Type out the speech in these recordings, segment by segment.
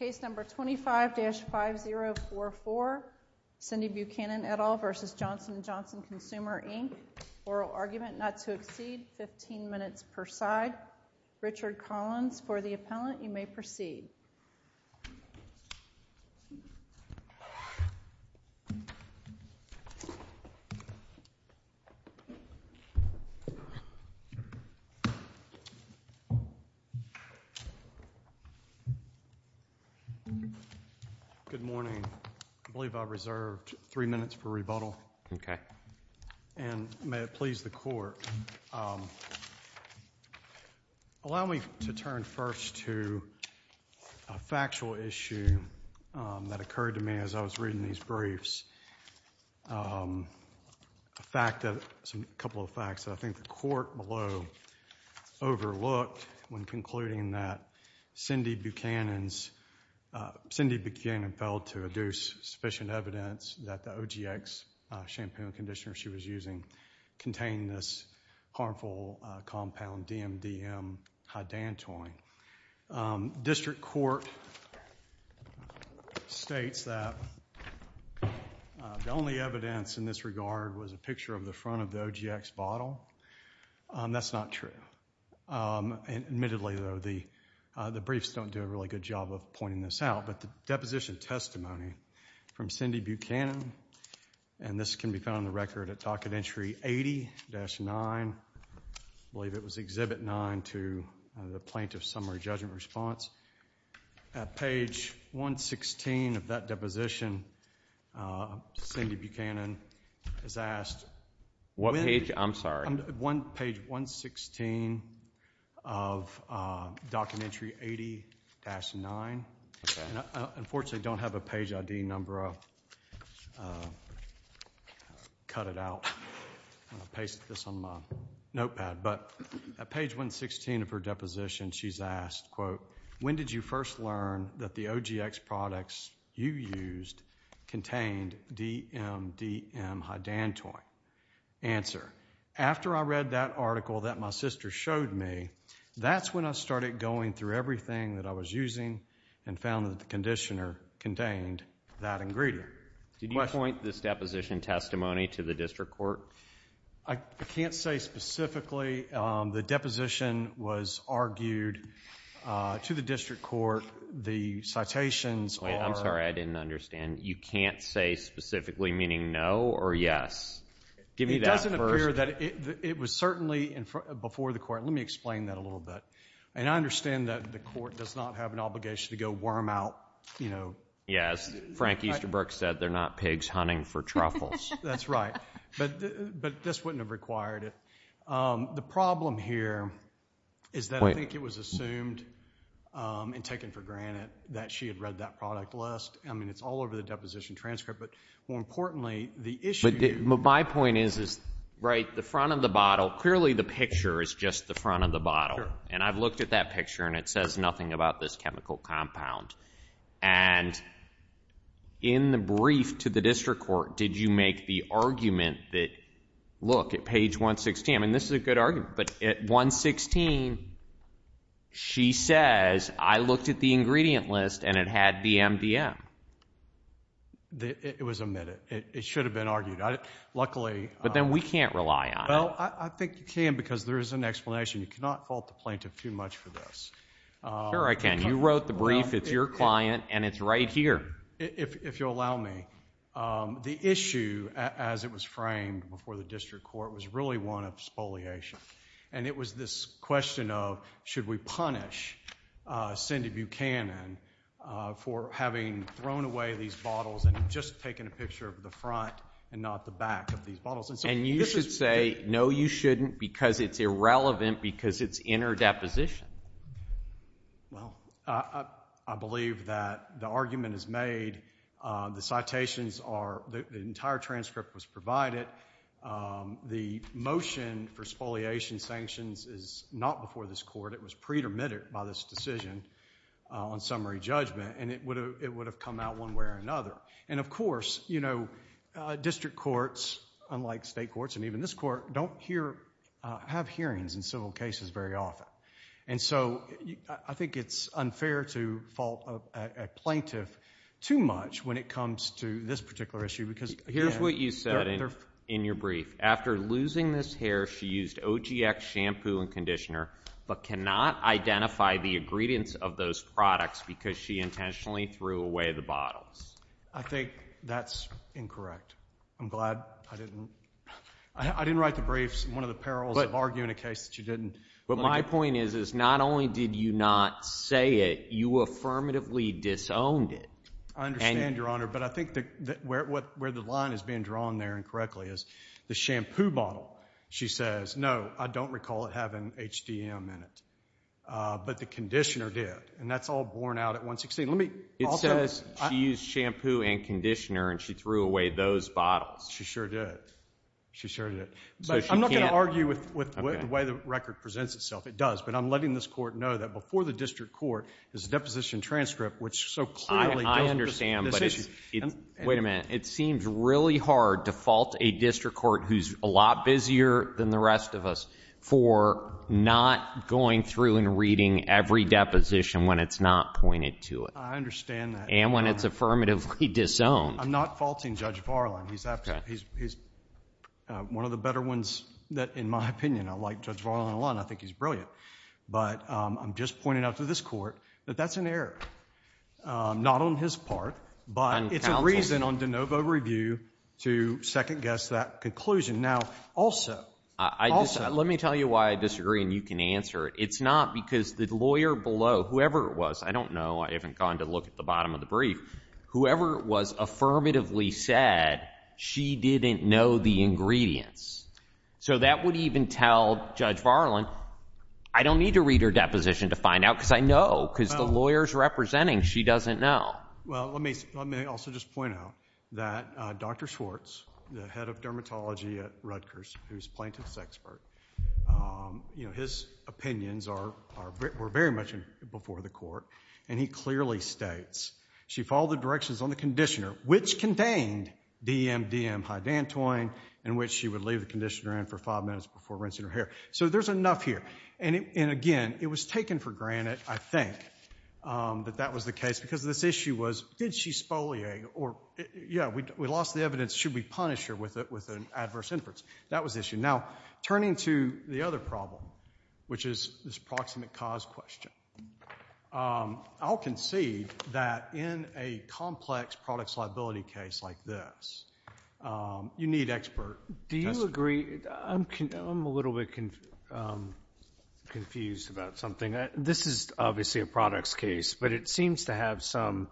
Case number 25-5044, Cindy Buchanan, et al. v. Johnson & Johnson Consumer, Inc. Oral argument not to exceed 15 minutes per side. Richard Collins for the appellant, you may proceed. Good morning. I believe I reserved three minutes for rebuttal. Okay. And may it please the Court, allow me to turn first to a factual issue that occurred to me as I was reading these briefs. A couple of facts that I think the Court below overlooked when concluding that Cindy Buchanan failed to adduce sufficient evidence that the OGX shampoo and conditioner she was using contained this harmful compound, DMDM-Hydantoin. District Court states that the only evidence in this regard was a picture of the front of the OGX bottle. That's not true. Admittedly, though, the briefs don't do a really good job of pointing this out. But the deposition testimony from Cindy Buchanan, and this can be found on the record at Docket Entry 80-9. I believe it was Exhibit 9 to the Plaintiff's Summary Judgment Response. Page 116 of that deposition, Cindy Buchanan has asked What page? I'm sorry. Page 116 of Docket Entry 80-9. Unfortunately, I don't have a page ID number. I'll cut it out. I'll paste this on my notepad. But at page 116 of her deposition, she's asked When did you first learn that the OGX products you used contained DMDM-Hydantoin? Answer. After I read that article that my sister showed me, that's when I started going through everything that I was using and found that the conditioner contained that ingredient. Did you point this deposition testimony to the district court? I can't say specifically. The deposition was argued to the district court. The citations are I'm sorry, I didn't understand. You can't say specifically meaning no or yes? It doesn't appear that it was certainly before the court. Let me explain that a little bit. And I understand that the court does not have an obligation to go worm out, you know Yes. Frank Easterbrook said they're not pigs hunting for truffles. That's right. But this wouldn't have required it. The problem here is that I think it was assumed and taken for granted that she had read that product list. I mean, it's all over the deposition transcript. But more importantly, the issue My point is, right, the front of the bottle, clearly the picture is just the front of the bottle. And I've looked at that picture and it says nothing about this chemical compound. And in the brief to the district court, did you make the argument that, look, at page 116 I mean, this is a good argument. But at 116, she says, I looked at the ingredient list and it had BMDM. It was omitted. It should have been argued. Luckily But then we can't rely on it. Well, I think you can because there is an explanation. You cannot fault the plaintiff too much for this. Sure I can. You wrote the brief. It's your client. And it's right here. If you'll allow me. The issue, as it was framed before the district court, was really one of spoliation. And it was this question of, should we punish Cindy Buchanan for having thrown away these bottles and just taken a picture of the front and not the back of these bottles. And you should say, no, you shouldn't because it's irrelevant because it's in her deposition. Well, I believe that the argument is made. The citations are, the entire transcript was provided. The motion for spoliation sanctions is not before this court. It was pre-dermitted by this decision on summary judgment. And it would have come out one way or another. And of course, district courts, unlike state courts and even this court, don't have hearings in civil cases very often. And so I think it's unfair to fault a plaintiff too much when it comes to this particular issue. Here's what you said in your brief. After losing this hair, she used OGX shampoo and conditioner but cannot identify the ingredients of those products because she intentionally threw away the bottles. I think that's incorrect. I'm glad I didn't write the briefs. It's one of the perils of arguing a case that you didn't. But my point is, is not only did you not say it, you affirmatively disowned it. I understand, Your Honor, but I think where the line is being drawn there incorrectly is the shampoo bottle. She says, no, I don't recall it having HDM in it, but the conditioner did. And that's all borne out at 116. It says she used shampoo and conditioner and she threw away those bottles. She sure did. She sure did. But I'm not going to argue with the way the record presents itself. It does. But I'm letting this Court know that before the district court is a deposition transcript, which so clearly doesn't present this issue. I understand, but wait a minute. It seems really hard to fault a district court who's a lot busier than the rest of us for not going through and reading every deposition when it's not pointed to it. I understand that, Your Honor. And when it's affirmatively disowned. I'm not faulting Judge Varlin. He's one of the better ones in my opinion. I like Judge Varlin a lot and I think he's brilliant. But I'm just pointing out to this Court that that's an error. Not on his part, but it's a reason on de novo review to second guess that conclusion. Now, also, also. Let me tell you why I disagree and you can answer it. It's not because the lawyer below, whoever it was. I don't know. I haven't gone to look at the bottom of the brief. Whoever it was affirmatively said, she didn't know the ingredients. So that would even tell Judge Varlin, I don't need to read her deposition to find out because I know. Because the lawyer's representing, she doesn't know. Well, let me also just point out that Dr. Schwartz, the head of dermatology at Rutgers, who's a plaintiff's expert, his opinions were very much before the Court. And he clearly states, she followed the directions on the conditioner, which contained DMDM hydantoin, in which she would leave the conditioner in for five minutes before rinsing her hair. So there's enough here. And again, it was taken for granted, I think, that that was the case. Because this issue was, did she spoliate? Yeah, we lost the evidence. Should we punish her with an adverse inference? That was the issue. Now, turning to the other problem, which is this proximate cause question. I'll concede that in a complex products liability case like this, you need expert testimony. Do you agree? I'm a little bit confused about something. This is obviously a products case, but it seems to have some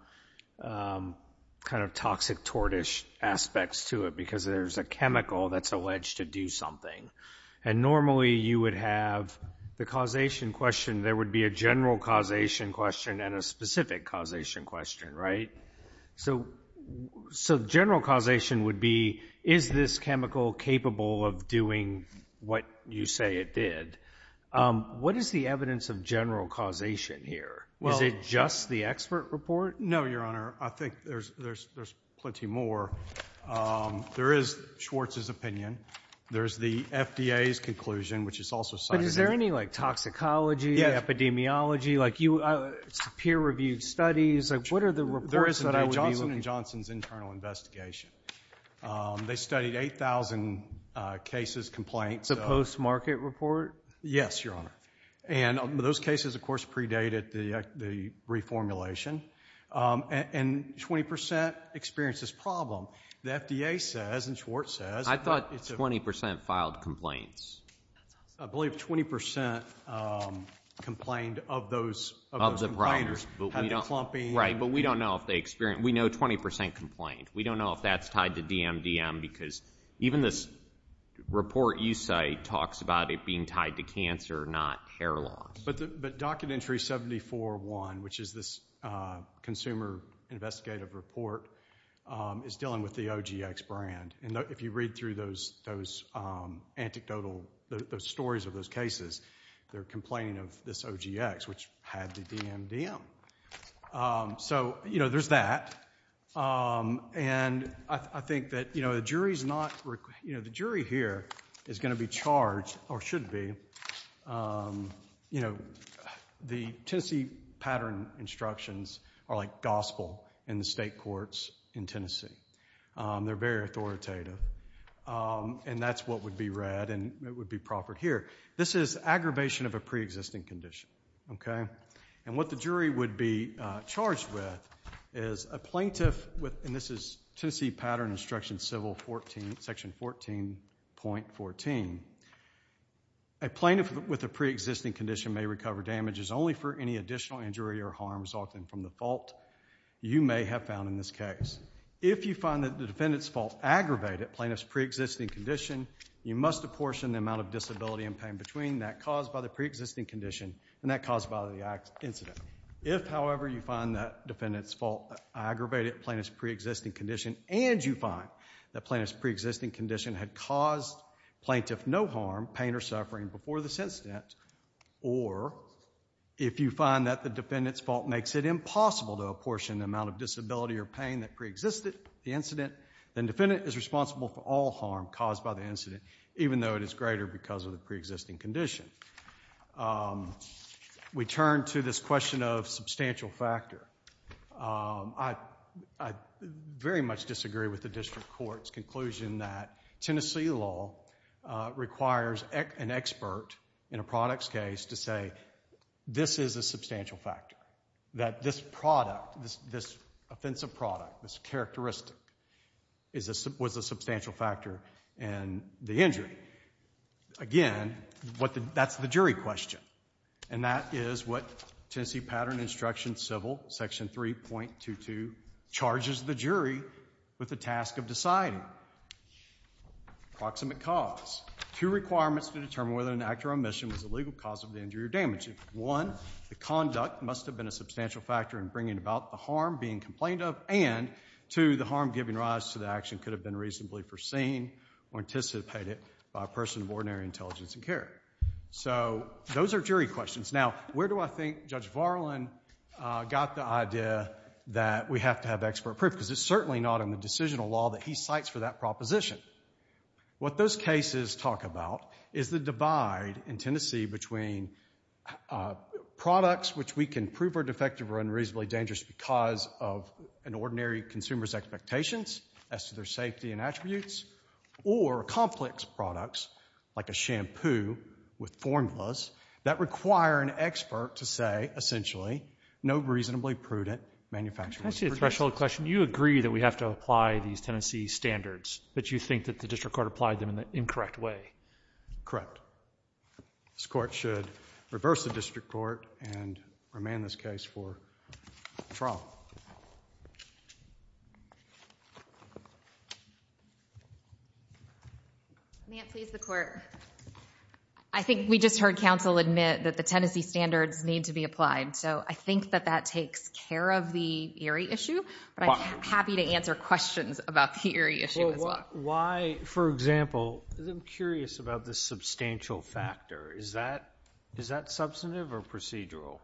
kind of toxic tortish aspects to it And normally you would have the causation question. There would be a general causation question and a specific causation question, right? So general causation would be, is this chemical capable of doing what you say it did? What is the evidence of general causation here? Is it just the expert report? No, Your Honor. I think there's plenty more. There is Schwartz's opinion. There's the FDA's conclusion, which is also cited here. But is there any toxicology, epidemiology, peer-reviewed studies? What are the reports that I would be looking for? There is a Johnson & Johnson's internal investigation. They studied 8,000 cases, complaints. The post-market report? Yes, Your Honor. And those cases, of course, predated the reformulation. And 20% experienced this problem. The FDA says and Schwartz says I thought 20% filed complaints. I believe 20% complained of those complaints. Of the problems. Had the clumping. Right, but we don't know if they experienced. We know 20% complained. We don't know if that's tied to DMDM because even this report you cite talks about it being tied to cancer, not hair loss. But Document Entry 74-1, which is this consumer investigative report, is dealing with the OGX brand. And if you read through those stories of those cases, they're complaining of this OGX, which had the DMDM. So there's that. And I think that the jury here is going to be charged, or should be. The Tennessee pattern instructions are like gospel in the state courts in Tennessee. They're very authoritative. And that's what would be read and it would be proffered here. This is aggravation of a pre-existing condition. And what the jury would be charged with is a plaintiff, and this is Tennessee pattern instruction section 14.14. A plaintiff with a pre-existing condition may recover damages only for any additional injury or harms often from the fault you may have found in this case. If you find that the defendant's fault aggravated plaintiff's pre-existing condition, you must apportion the amount of disability and pain between that caused by the pre-existing condition and that caused by the incident. If, however, you find that defendant's fault aggravated plaintiff's pre-existing condition and you find that plaintiff's pre-existing condition had caused plaintiff no harm, pain, or suffering before this incident, or if you find that the defendant's fault makes it impossible to apportion the amount of disability or pain that pre-existed the incident, then defendant is responsible for all harm caused by the incident, even though it is greater because of the pre-existing condition. We turn to this question of substantial factor. I very much disagree with the district court's conclusion that Tennessee law requires an expert in a product's case to say this is a substantial factor, that this product, this offensive product, this characteristic was a substantial factor in the injury. Again, that's the jury question, and that is what Tennessee Pattern Instruction Civil, Section 3.22 charges the jury with the task of deciding. Approximate cause. Two requirements to determine whether an act or omission was a legal cause of the injury or damage. One, the conduct must have been a substantial factor in bringing about the harm being complained of, and two, the harm giving rise to the action could have been reasonably foreseen or anticipated by a person of ordinary intelligence and care. So those are jury questions. Now, where do I think Judge Varlin got the idea that we have to have expert proof? Because it's certainly not in the decisional law that he cites for that proposition. What those cases talk about is the divide in Tennessee between products which we can prove are defective or unreasonably dangerous because of an ordinary consumer's expectations as to their safety and attributes, or complex products like a shampoo with formulas that require an expert to say, essentially, no reasonably prudent manufacturer's predictions. Can I ask you a threshold question? You agree that we have to apply these Tennessee standards, but you think that the district court applied them in the incorrect way. Correct. This court should reverse the district court and remand this case for trial. May it please the court. I think we just heard counsel admit that the Tennessee standards need to be applied, so I think that that takes care of the Erie issue, but I'm happy to answer questions about the Erie issue as well. Why, for example, because I'm curious about the substantial factor. Is that substantive or procedural?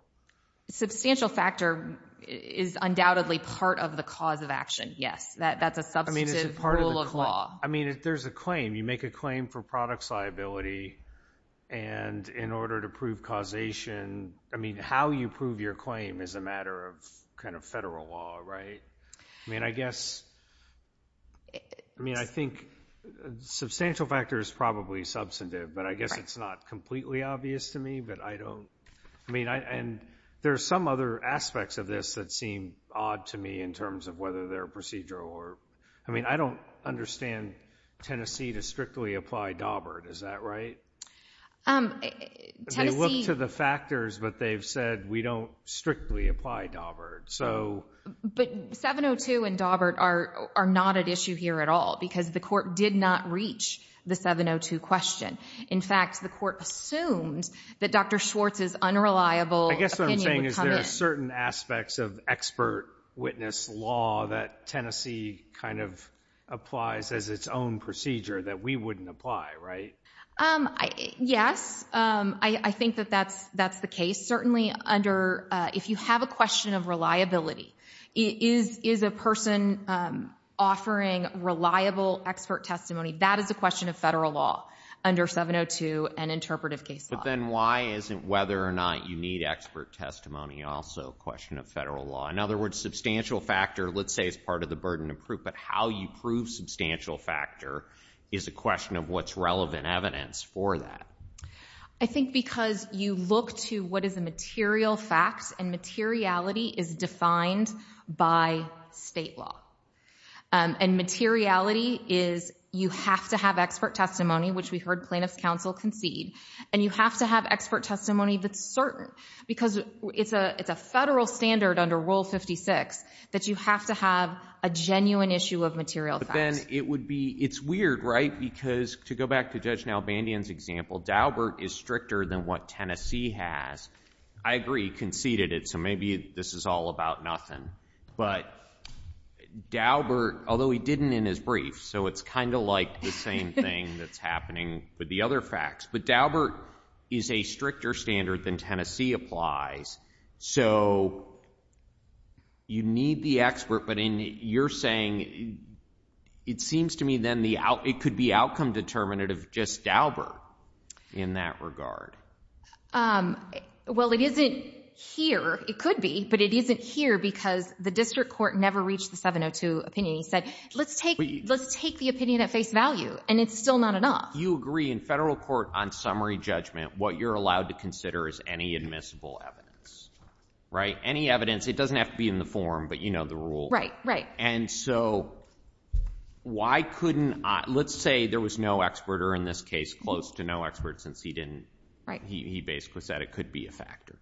Substantial factor is undoubtedly part of the cause of action, yes. That's a substantive rule of law. I mean, there's a claim. You make a claim for products liability, and in order to prove causation... I mean, how you prove your claim is a matter of kind of federal law, right? I mean, I guess... I mean, I think substantial factor is probably substantive, but I guess it's not completely obvious to me, but I don't... I mean, and there's some other aspects of this that seem odd to me in terms of whether they're procedural or... I mean, I don't understand Tennessee to strictly apply Daubert. Is that right? Tennessee... They look to the factors, but they've said, we don't strictly apply Daubert, so... But 702 and Daubert are not at issue here at all because the court did not reach the 702 question. In fact, the court assumed that Dr. Schwartz's unreliable opinion would come in. I guess what I'm saying is there are certain aspects of expert witness law that Tennessee kind of applies as its own procedure that we wouldn't apply, right? Yes. I think that that's the case. Certainly under... If you have a question of reliability, is a person offering reliable expert testimony, that is a question of federal law under 702 and interpretive case law. But then why isn't whether or not you need expert testimony also a question of federal law? In other words, substantial factor, let's say, is part of the burden of proof, but how you prove substantial factor is a question of what's relevant evidence for that. I think because you look to what is a material fact, and materiality is defined by state law. And materiality is you have to have expert testimony, which we heard plaintiffs' counsel concede, and you have to have expert testimony that's certain because it's a federal standard under Rule 56 that you have to have a genuine issue of material facts. But then it would be... It's weird, right? Because to go back to Judge Nalbandian's example, Daubert is stricter than what Tennessee has. I agree, he conceded it, so maybe this is all about nothing. But Daubert, although he didn't in his brief, so it's kind of like the same thing that's happening with the other facts. But Daubert is a stricter standard than Tennessee applies, so you need the expert, but you're saying, it seems to me then it could be outcome determinative just Daubert in that regard. Well, it isn't here. It could be, but it isn't here because the district court never reached the 702 opinion. He said, let's take the opinion at face value, and it's still not enough. You agree in federal court on summary judgment, what you're allowed to consider is any admissible evidence, right? Any evidence. It doesn't have to be in the form, but you know the rule. Right, right. And so why couldn't... Let's say there was no expert, or in this case, close to no expert since he basically said it could be a factor.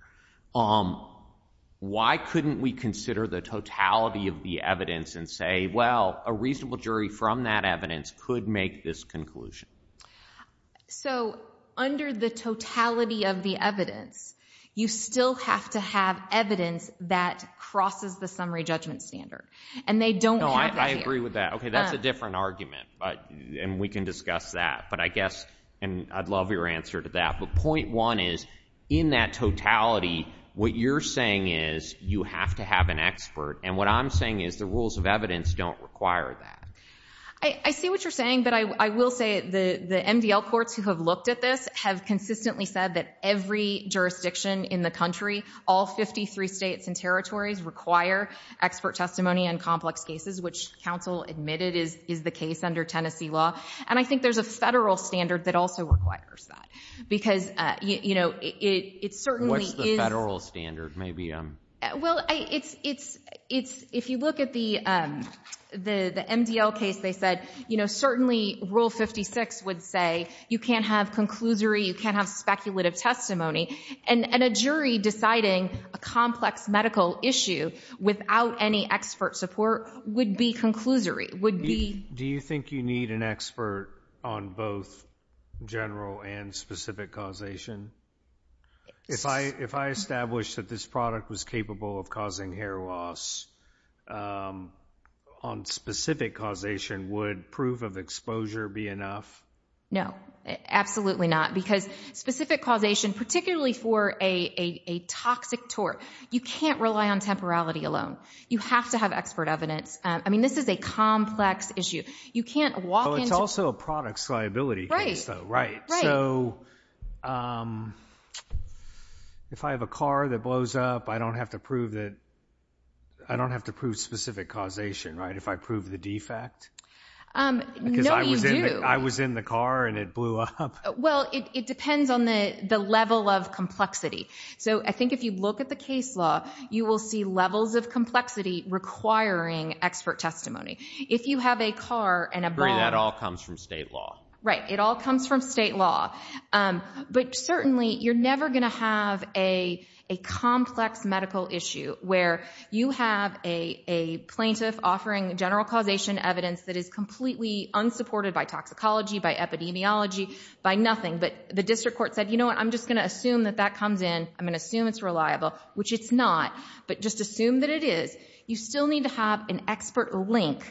Why couldn't we consider the totality of the evidence and say, well, a reasonable jury from that evidence could make this conclusion? So under the totality of the evidence, you still have to have evidence that crosses the summary judgment standard, and they don't have it here. No, I agree with that. Okay, that's a different argument, and we can discuss that, but I guess, and I'd love your answer to that, but point one is in that totality, what you're saying is you have to have an expert, and what I'm saying is the rules of evidence don't require that. I see what you're saying, but I will say the MDL courts who have looked at this have consistently said that every jurisdiction in the country, all 53 states and territories, require expert testimony on complex cases, which counsel admitted is the case under Tennessee law, and I think there's a federal standard that also requires that because it certainly is... What's the federal standard? Well, if you look at the MDL case, they said certainly Rule 56 would say you can't have conclusory, you can't have speculative testimony, and a jury deciding a complex medical issue without any expert support would be conclusory, would be... Do you think you need an expert on both general and specific causation? If I establish that this product was capable of causing hair loss on specific causation, would proof of exposure be enough? No, absolutely not, because specific causation, particularly for a toxic tort, you can't rely on temporality alone. You have to have expert evidence. I mean, this is a complex issue. You can't walk into... This is a products liability case, though, right? So if I have a car that blows up, I don't have to prove specific causation, right, if I prove the defect? No, you do. Because I was in the car and it blew up. Well, it depends on the level of complexity. So I think if you look at the case law, you will see levels of complexity requiring expert testimony. If you have a car and a bomb... I agree, that all comes from state law. Right, it all comes from state law. But certainly you're never going to have a complex medical issue where you have a plaintiff offering general causation evidence that is completely unsupported by toxicology, by epidemiology, by nothing, but the district court said, you know what, I'm just going to assume that that comes in, I'm going to assume it's reliable, which it's not, but just assume that it is. You still need to have an expert link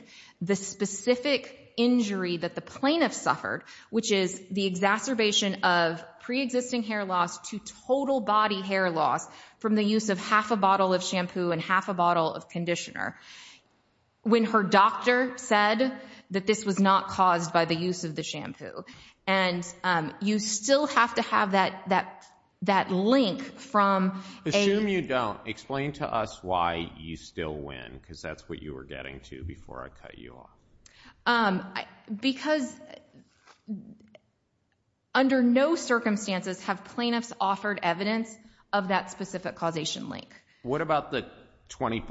the specific injury that the plaintiff suffered, which is the exacerbation of pre-existing hair loss to total body hair loss from the use of half a bottle of shampoo and half a bottle of conditioner, when her doctor said that this was not caused by the use of the shampoo. And you still have to have that link from a... Assume you don't. Explain to us why you still win, because that's what you were getting to before I cut you off. Because under no circumstances have plaintiffs offered evidence of that specific causation link. What about the 20%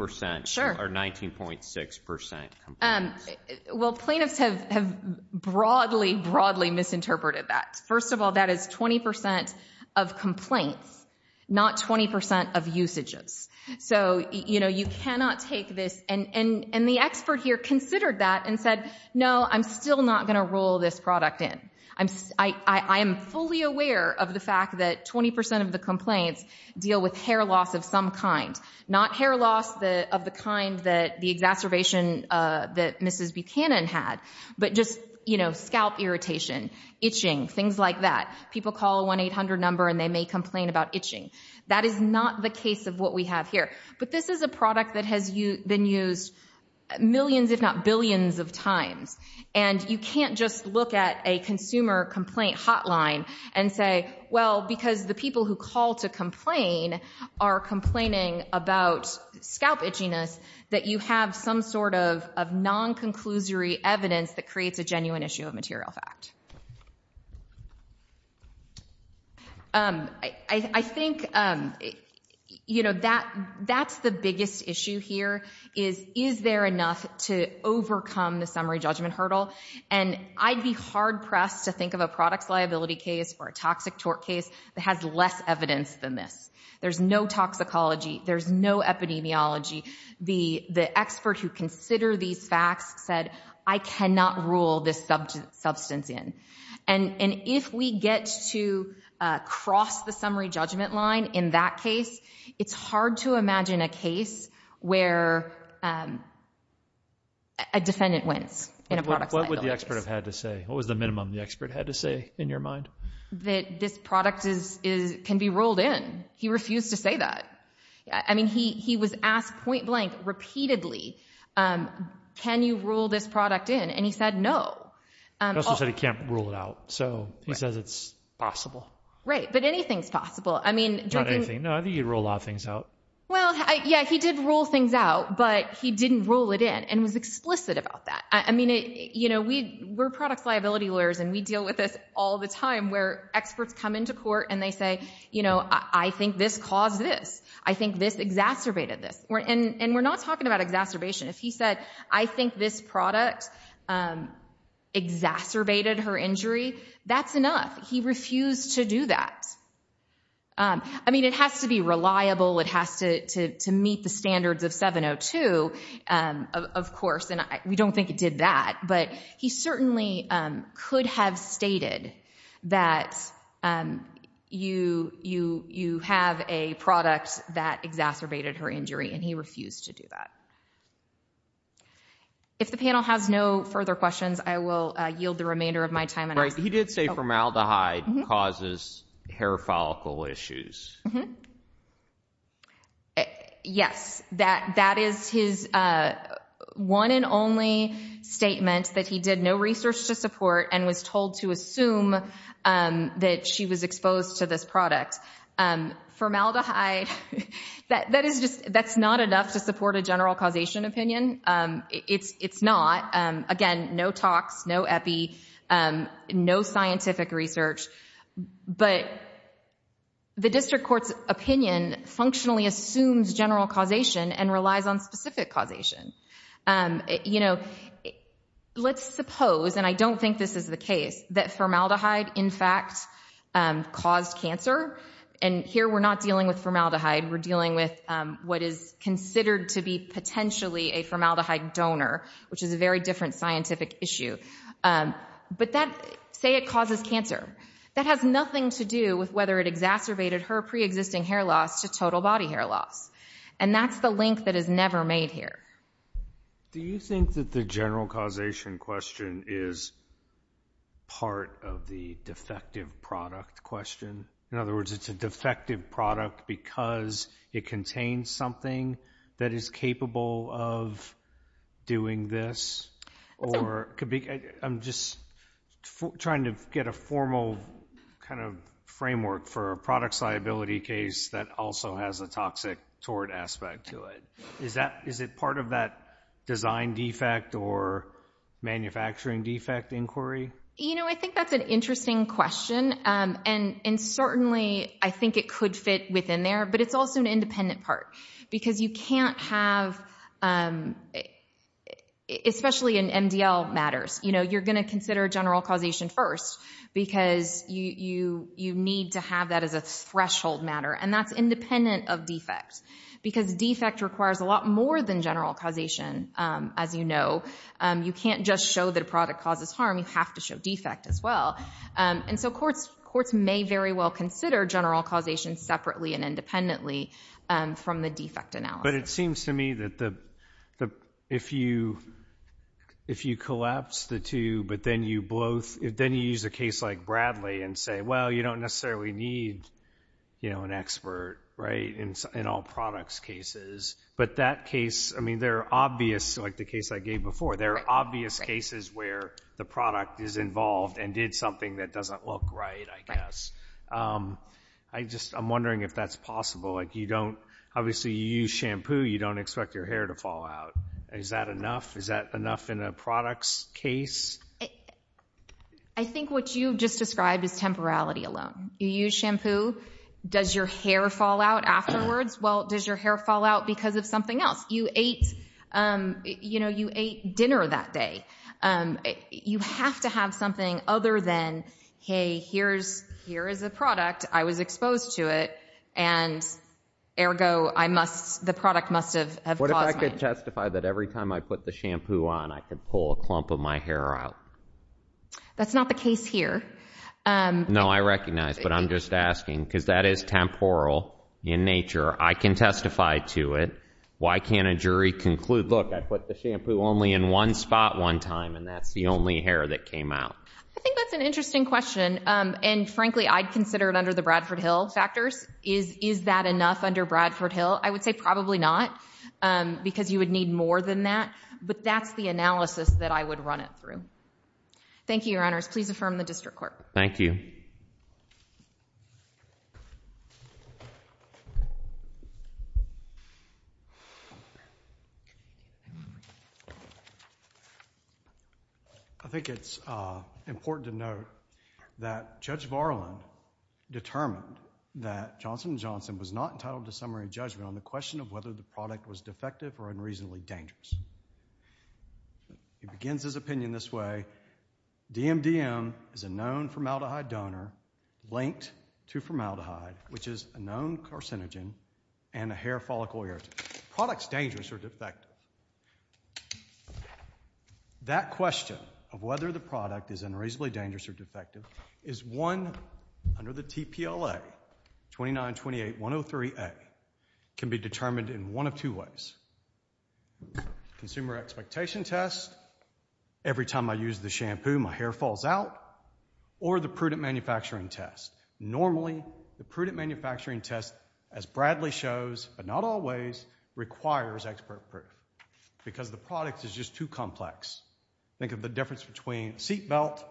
or 19.6% complaints? Well, plaintiffs have broadly, broadly misinterpreted that. First of all, that is 20% of complaints, not 20% of usages. So, you know, you cannot take this... And the expert here considered that and said, no, I'm still not going to rule this product in. I am fully aware of the fact that 20% of the complaints deal with hair loss of some kind, not hair loss of the kind that the exacerbation that Mrs. Buchanan had, but just, you know, scalp irritation, itching, things like that. People call a 1-800 number and they may complain about itching. That is not the case of what we have here. But this is a product that has been used millions, if not billions of times. And you can't just look at a consumer complaint hotline and say, well, because the people who call to complain are complaining about scalp itchiness, that you have some sort of non-conclusory evidence that creates a genuine issue of material fact. I think, you know, that's the biggest issue here is, is there enough to overcome the summary judgment hurdle? And I'd be hard-pressed to think of a products liability case or a toxic tort case that has less evidence than this. There's no toxicology. There's no epidemiology. The expert who considered these facts said, I cannot rule this substance in. And if we get to cross the summary judgment line in that case, it's hard to imagine a case where a defendant wins in a products liability case. What would the expert have had to say? What was the minimum the expert had to say in your mind? That this product can be ruled in. He refused to say that. I mean, he was asked point blank repeatedly, can you rule this product in? And he said no. He also said he can't rule it out. So he says it's possible. Right. But anything's possible. Not anything. No, I think he ruled a lot of things out. Well, yeah, he did rule things out, but he didn't rule it in and was explicit about that. I mean, you know, we're products liability lawyers and we deal with this all the time where experts come into court and they say, you know, I think this caused this. I think this exacerbated this. And we're not talking about exacerbation. If he said, I think this product exacerbated her injury, that's enough. He refused to do that. I mean, it has to be reliable. It has to meet the standards of 702, of course, and we don't think it did that. But he certainly could have stated that you have a product that exacerbated her injury, and he refused to do that. If the panel has no further questions, I will yield the remainder of my time. He did say formaldehyde causes hair follicle issues. Yes, that is his one and only statement, that he did no research to support and was told to assume that she was exposed to this product. Formaldehyde, that's not enough to support a general causation opinion. It's not. Again, no talks, no epi, no scientific research. But the district court's opinion functionally assumes general causation and relies on specific causation. You know, let's suppose, and I don't think this is the case, that formaldehyde, in fact, caused cancer. And here we're not dealing with formaldehyde. We're dealing with what is considered to be potentially a formaldehyde donor, which is a very different scientific issue. But say it causes cancer. That has nothing to do with whether it exacerbated her preexisting hair loss to total body hair loss. And that's the link that is never made here. Do you think that the general causation question is part of the defective product question? In other words, it's a defective product because it contains something that is capable of doing this? I'm just trying to get a formal kind of framework for a products liability case that also has a toxic tort aspect to it. Is it part of that design defect or manufacturing defect inquiry? You know, I think that's an interesting question. And certainly I think it could fit within there, but it's also an independent part because you can't have, especially in MDL matters, you're going to consider general causation first because you need to have that as a threshold matter, and that's independent of defect because defect requires a lot more than general causation, as you know. You can't just show that a product causes harm. You have to show defect as well. And so courts may very well consider general causation separately and independently from the defect analysis. But it seems to me that if you collapse the two, but then you use a case like Bradley and say, well, you don't necessarily need an expert in all products cases, but that case, I mean, there are obvious, like the case I gave before, there are obvious cases where the product is involved and did something that doesn't look right, I guess. I'm wondering if that's possible. Like you don't, obviously you use shampoo, you don't expect your hair to fall out. Is that enough? Is that enough in a products case? I think what you just described is temporality alone. You use shampoo, does your hair fall out afterwards? Well, does your hair fall out because of something else? You ate dinner that day. You have to have something other than, hey, here is a product, I was exposed to it, and ergo, the product must have caused it. What if I could testify that every time I put the shampoo on, I could pull a clump of my hair out? That's not the case here. No, I recognize, but I'm just asking because that is temporal in nature. I can testify to it. Why can't a jury conclude, look, I put the shampoo only in one spot one time, and that's the only hair that came out? I think that's an interesting question, and frankly I'd consider it under the Bradford Hill factors. Is that enough under Bradford Hill? I would say probably not because you would need more than that, but that's the analysis that I would run it through. Thank you, Your Honors. Please affirm the district court. Thank you. I think it's important to note that Judge Varland determined that Johnson & Johnson was not entitled to summary judgment on the question of whether the product was defective or unreasonably dangerous. He begins his opinion this way, DMDM is a known formaldehyde donor linked to formaldehyde, which is a known carcinogen and a hair follicle irritant. Products dangerous or defective? That question of whether the product is unreasonably dangerous or defective is one under the TPLA, 2928.103a, can be determined in one of two ways. Consumer expectation test, every time I use the shampoo my hair falls out, or the prudent manufacturing test. Normally the prudent manufacturing test, as Bradley shows, but not always, requires expert proof because the product is just too complex. Think of the difference between seat belt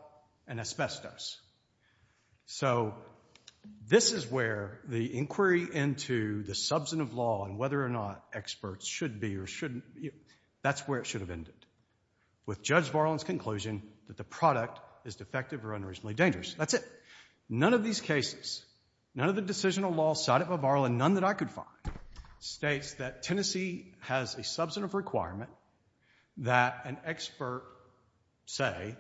and asbestos. So this is where the inquiry into the substantive law and whether or not experts should be or shouldn't, that's where it should have ended, with Judge Varland's conclusion that the product is defective or unreasonably dangerous. That's it. None of these cases, none of the decisional law cited by Varland, none that I could find, states that Tennessee has a substantive requirement that an expert say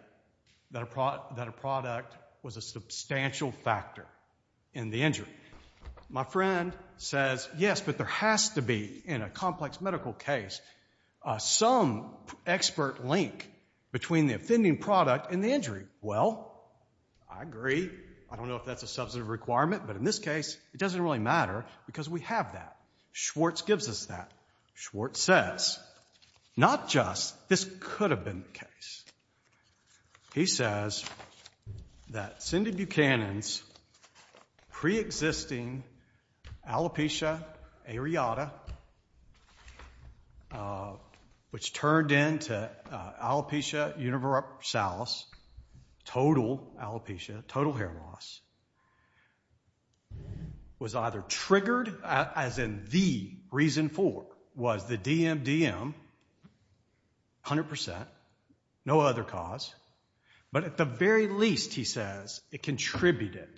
that a product was a substantial factor in the injury. My friend says, yes, but there has to be, in a complex medical case, some expert link between the offending product and the injury. Well, I agree. I don't know if that's a substantive requirement, but in this case it doesn't really matter because we have that. Schwartz gives us that. Schwartz says, not just this could have been the case. He says that Cindy Buchanan's preexisting alopecia areata, which turned into alopecia universalis, total alopecia, total hair loss, was either triggered, as in the reason for, was the DMDM, 100%, no other cause, but at the very least, he says, it contributed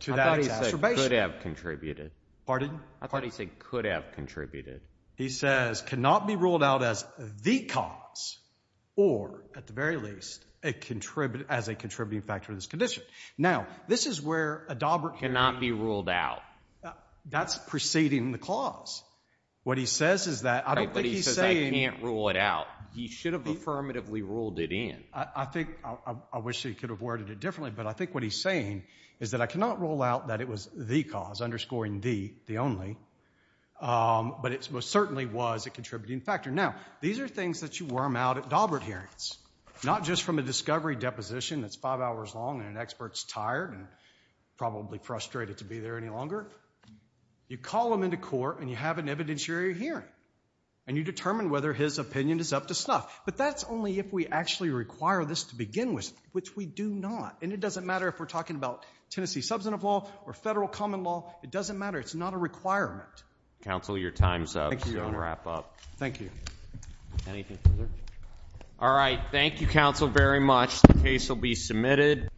to that exacerbation. I thought he said could have contributed. Pardon? I thought he said could have contributed. He says cannot be ruled out as the cause or, at the very least, as a contributing factor to this condition. Now, this is where Adaubert can't be ruled out. That's preceding the clause. What he says is that I don't think he's saying... But he says I can't rule it out. He should have affirmatively ruled it in. I think, I wish he could have worded it differently, but I think what he's saying is that I cannot rule out that it was the cause, underscoring the, the only, but it most certainly was a contributing factor. Now, these are things that you worm out at Adaubert hearings, not just from a discovery deposition that's five hours long and an expert's tired and probably frustrated to be there any longer. You call him into court and you have an evidentiary hearing and you determine whether his opinion is up to snuff, but that's only if we actually require this to begin with, which we do not, and it doesn't matter if we're talking about Tennessee substantive law or federal common law. It doesn't matter. It's not a requirement. Counsel, your time's up. Thank you, Your Honor. We'll wrap up. Thank you. Anything further? All right. Thank you, Counsel, very much. The case will be submitted.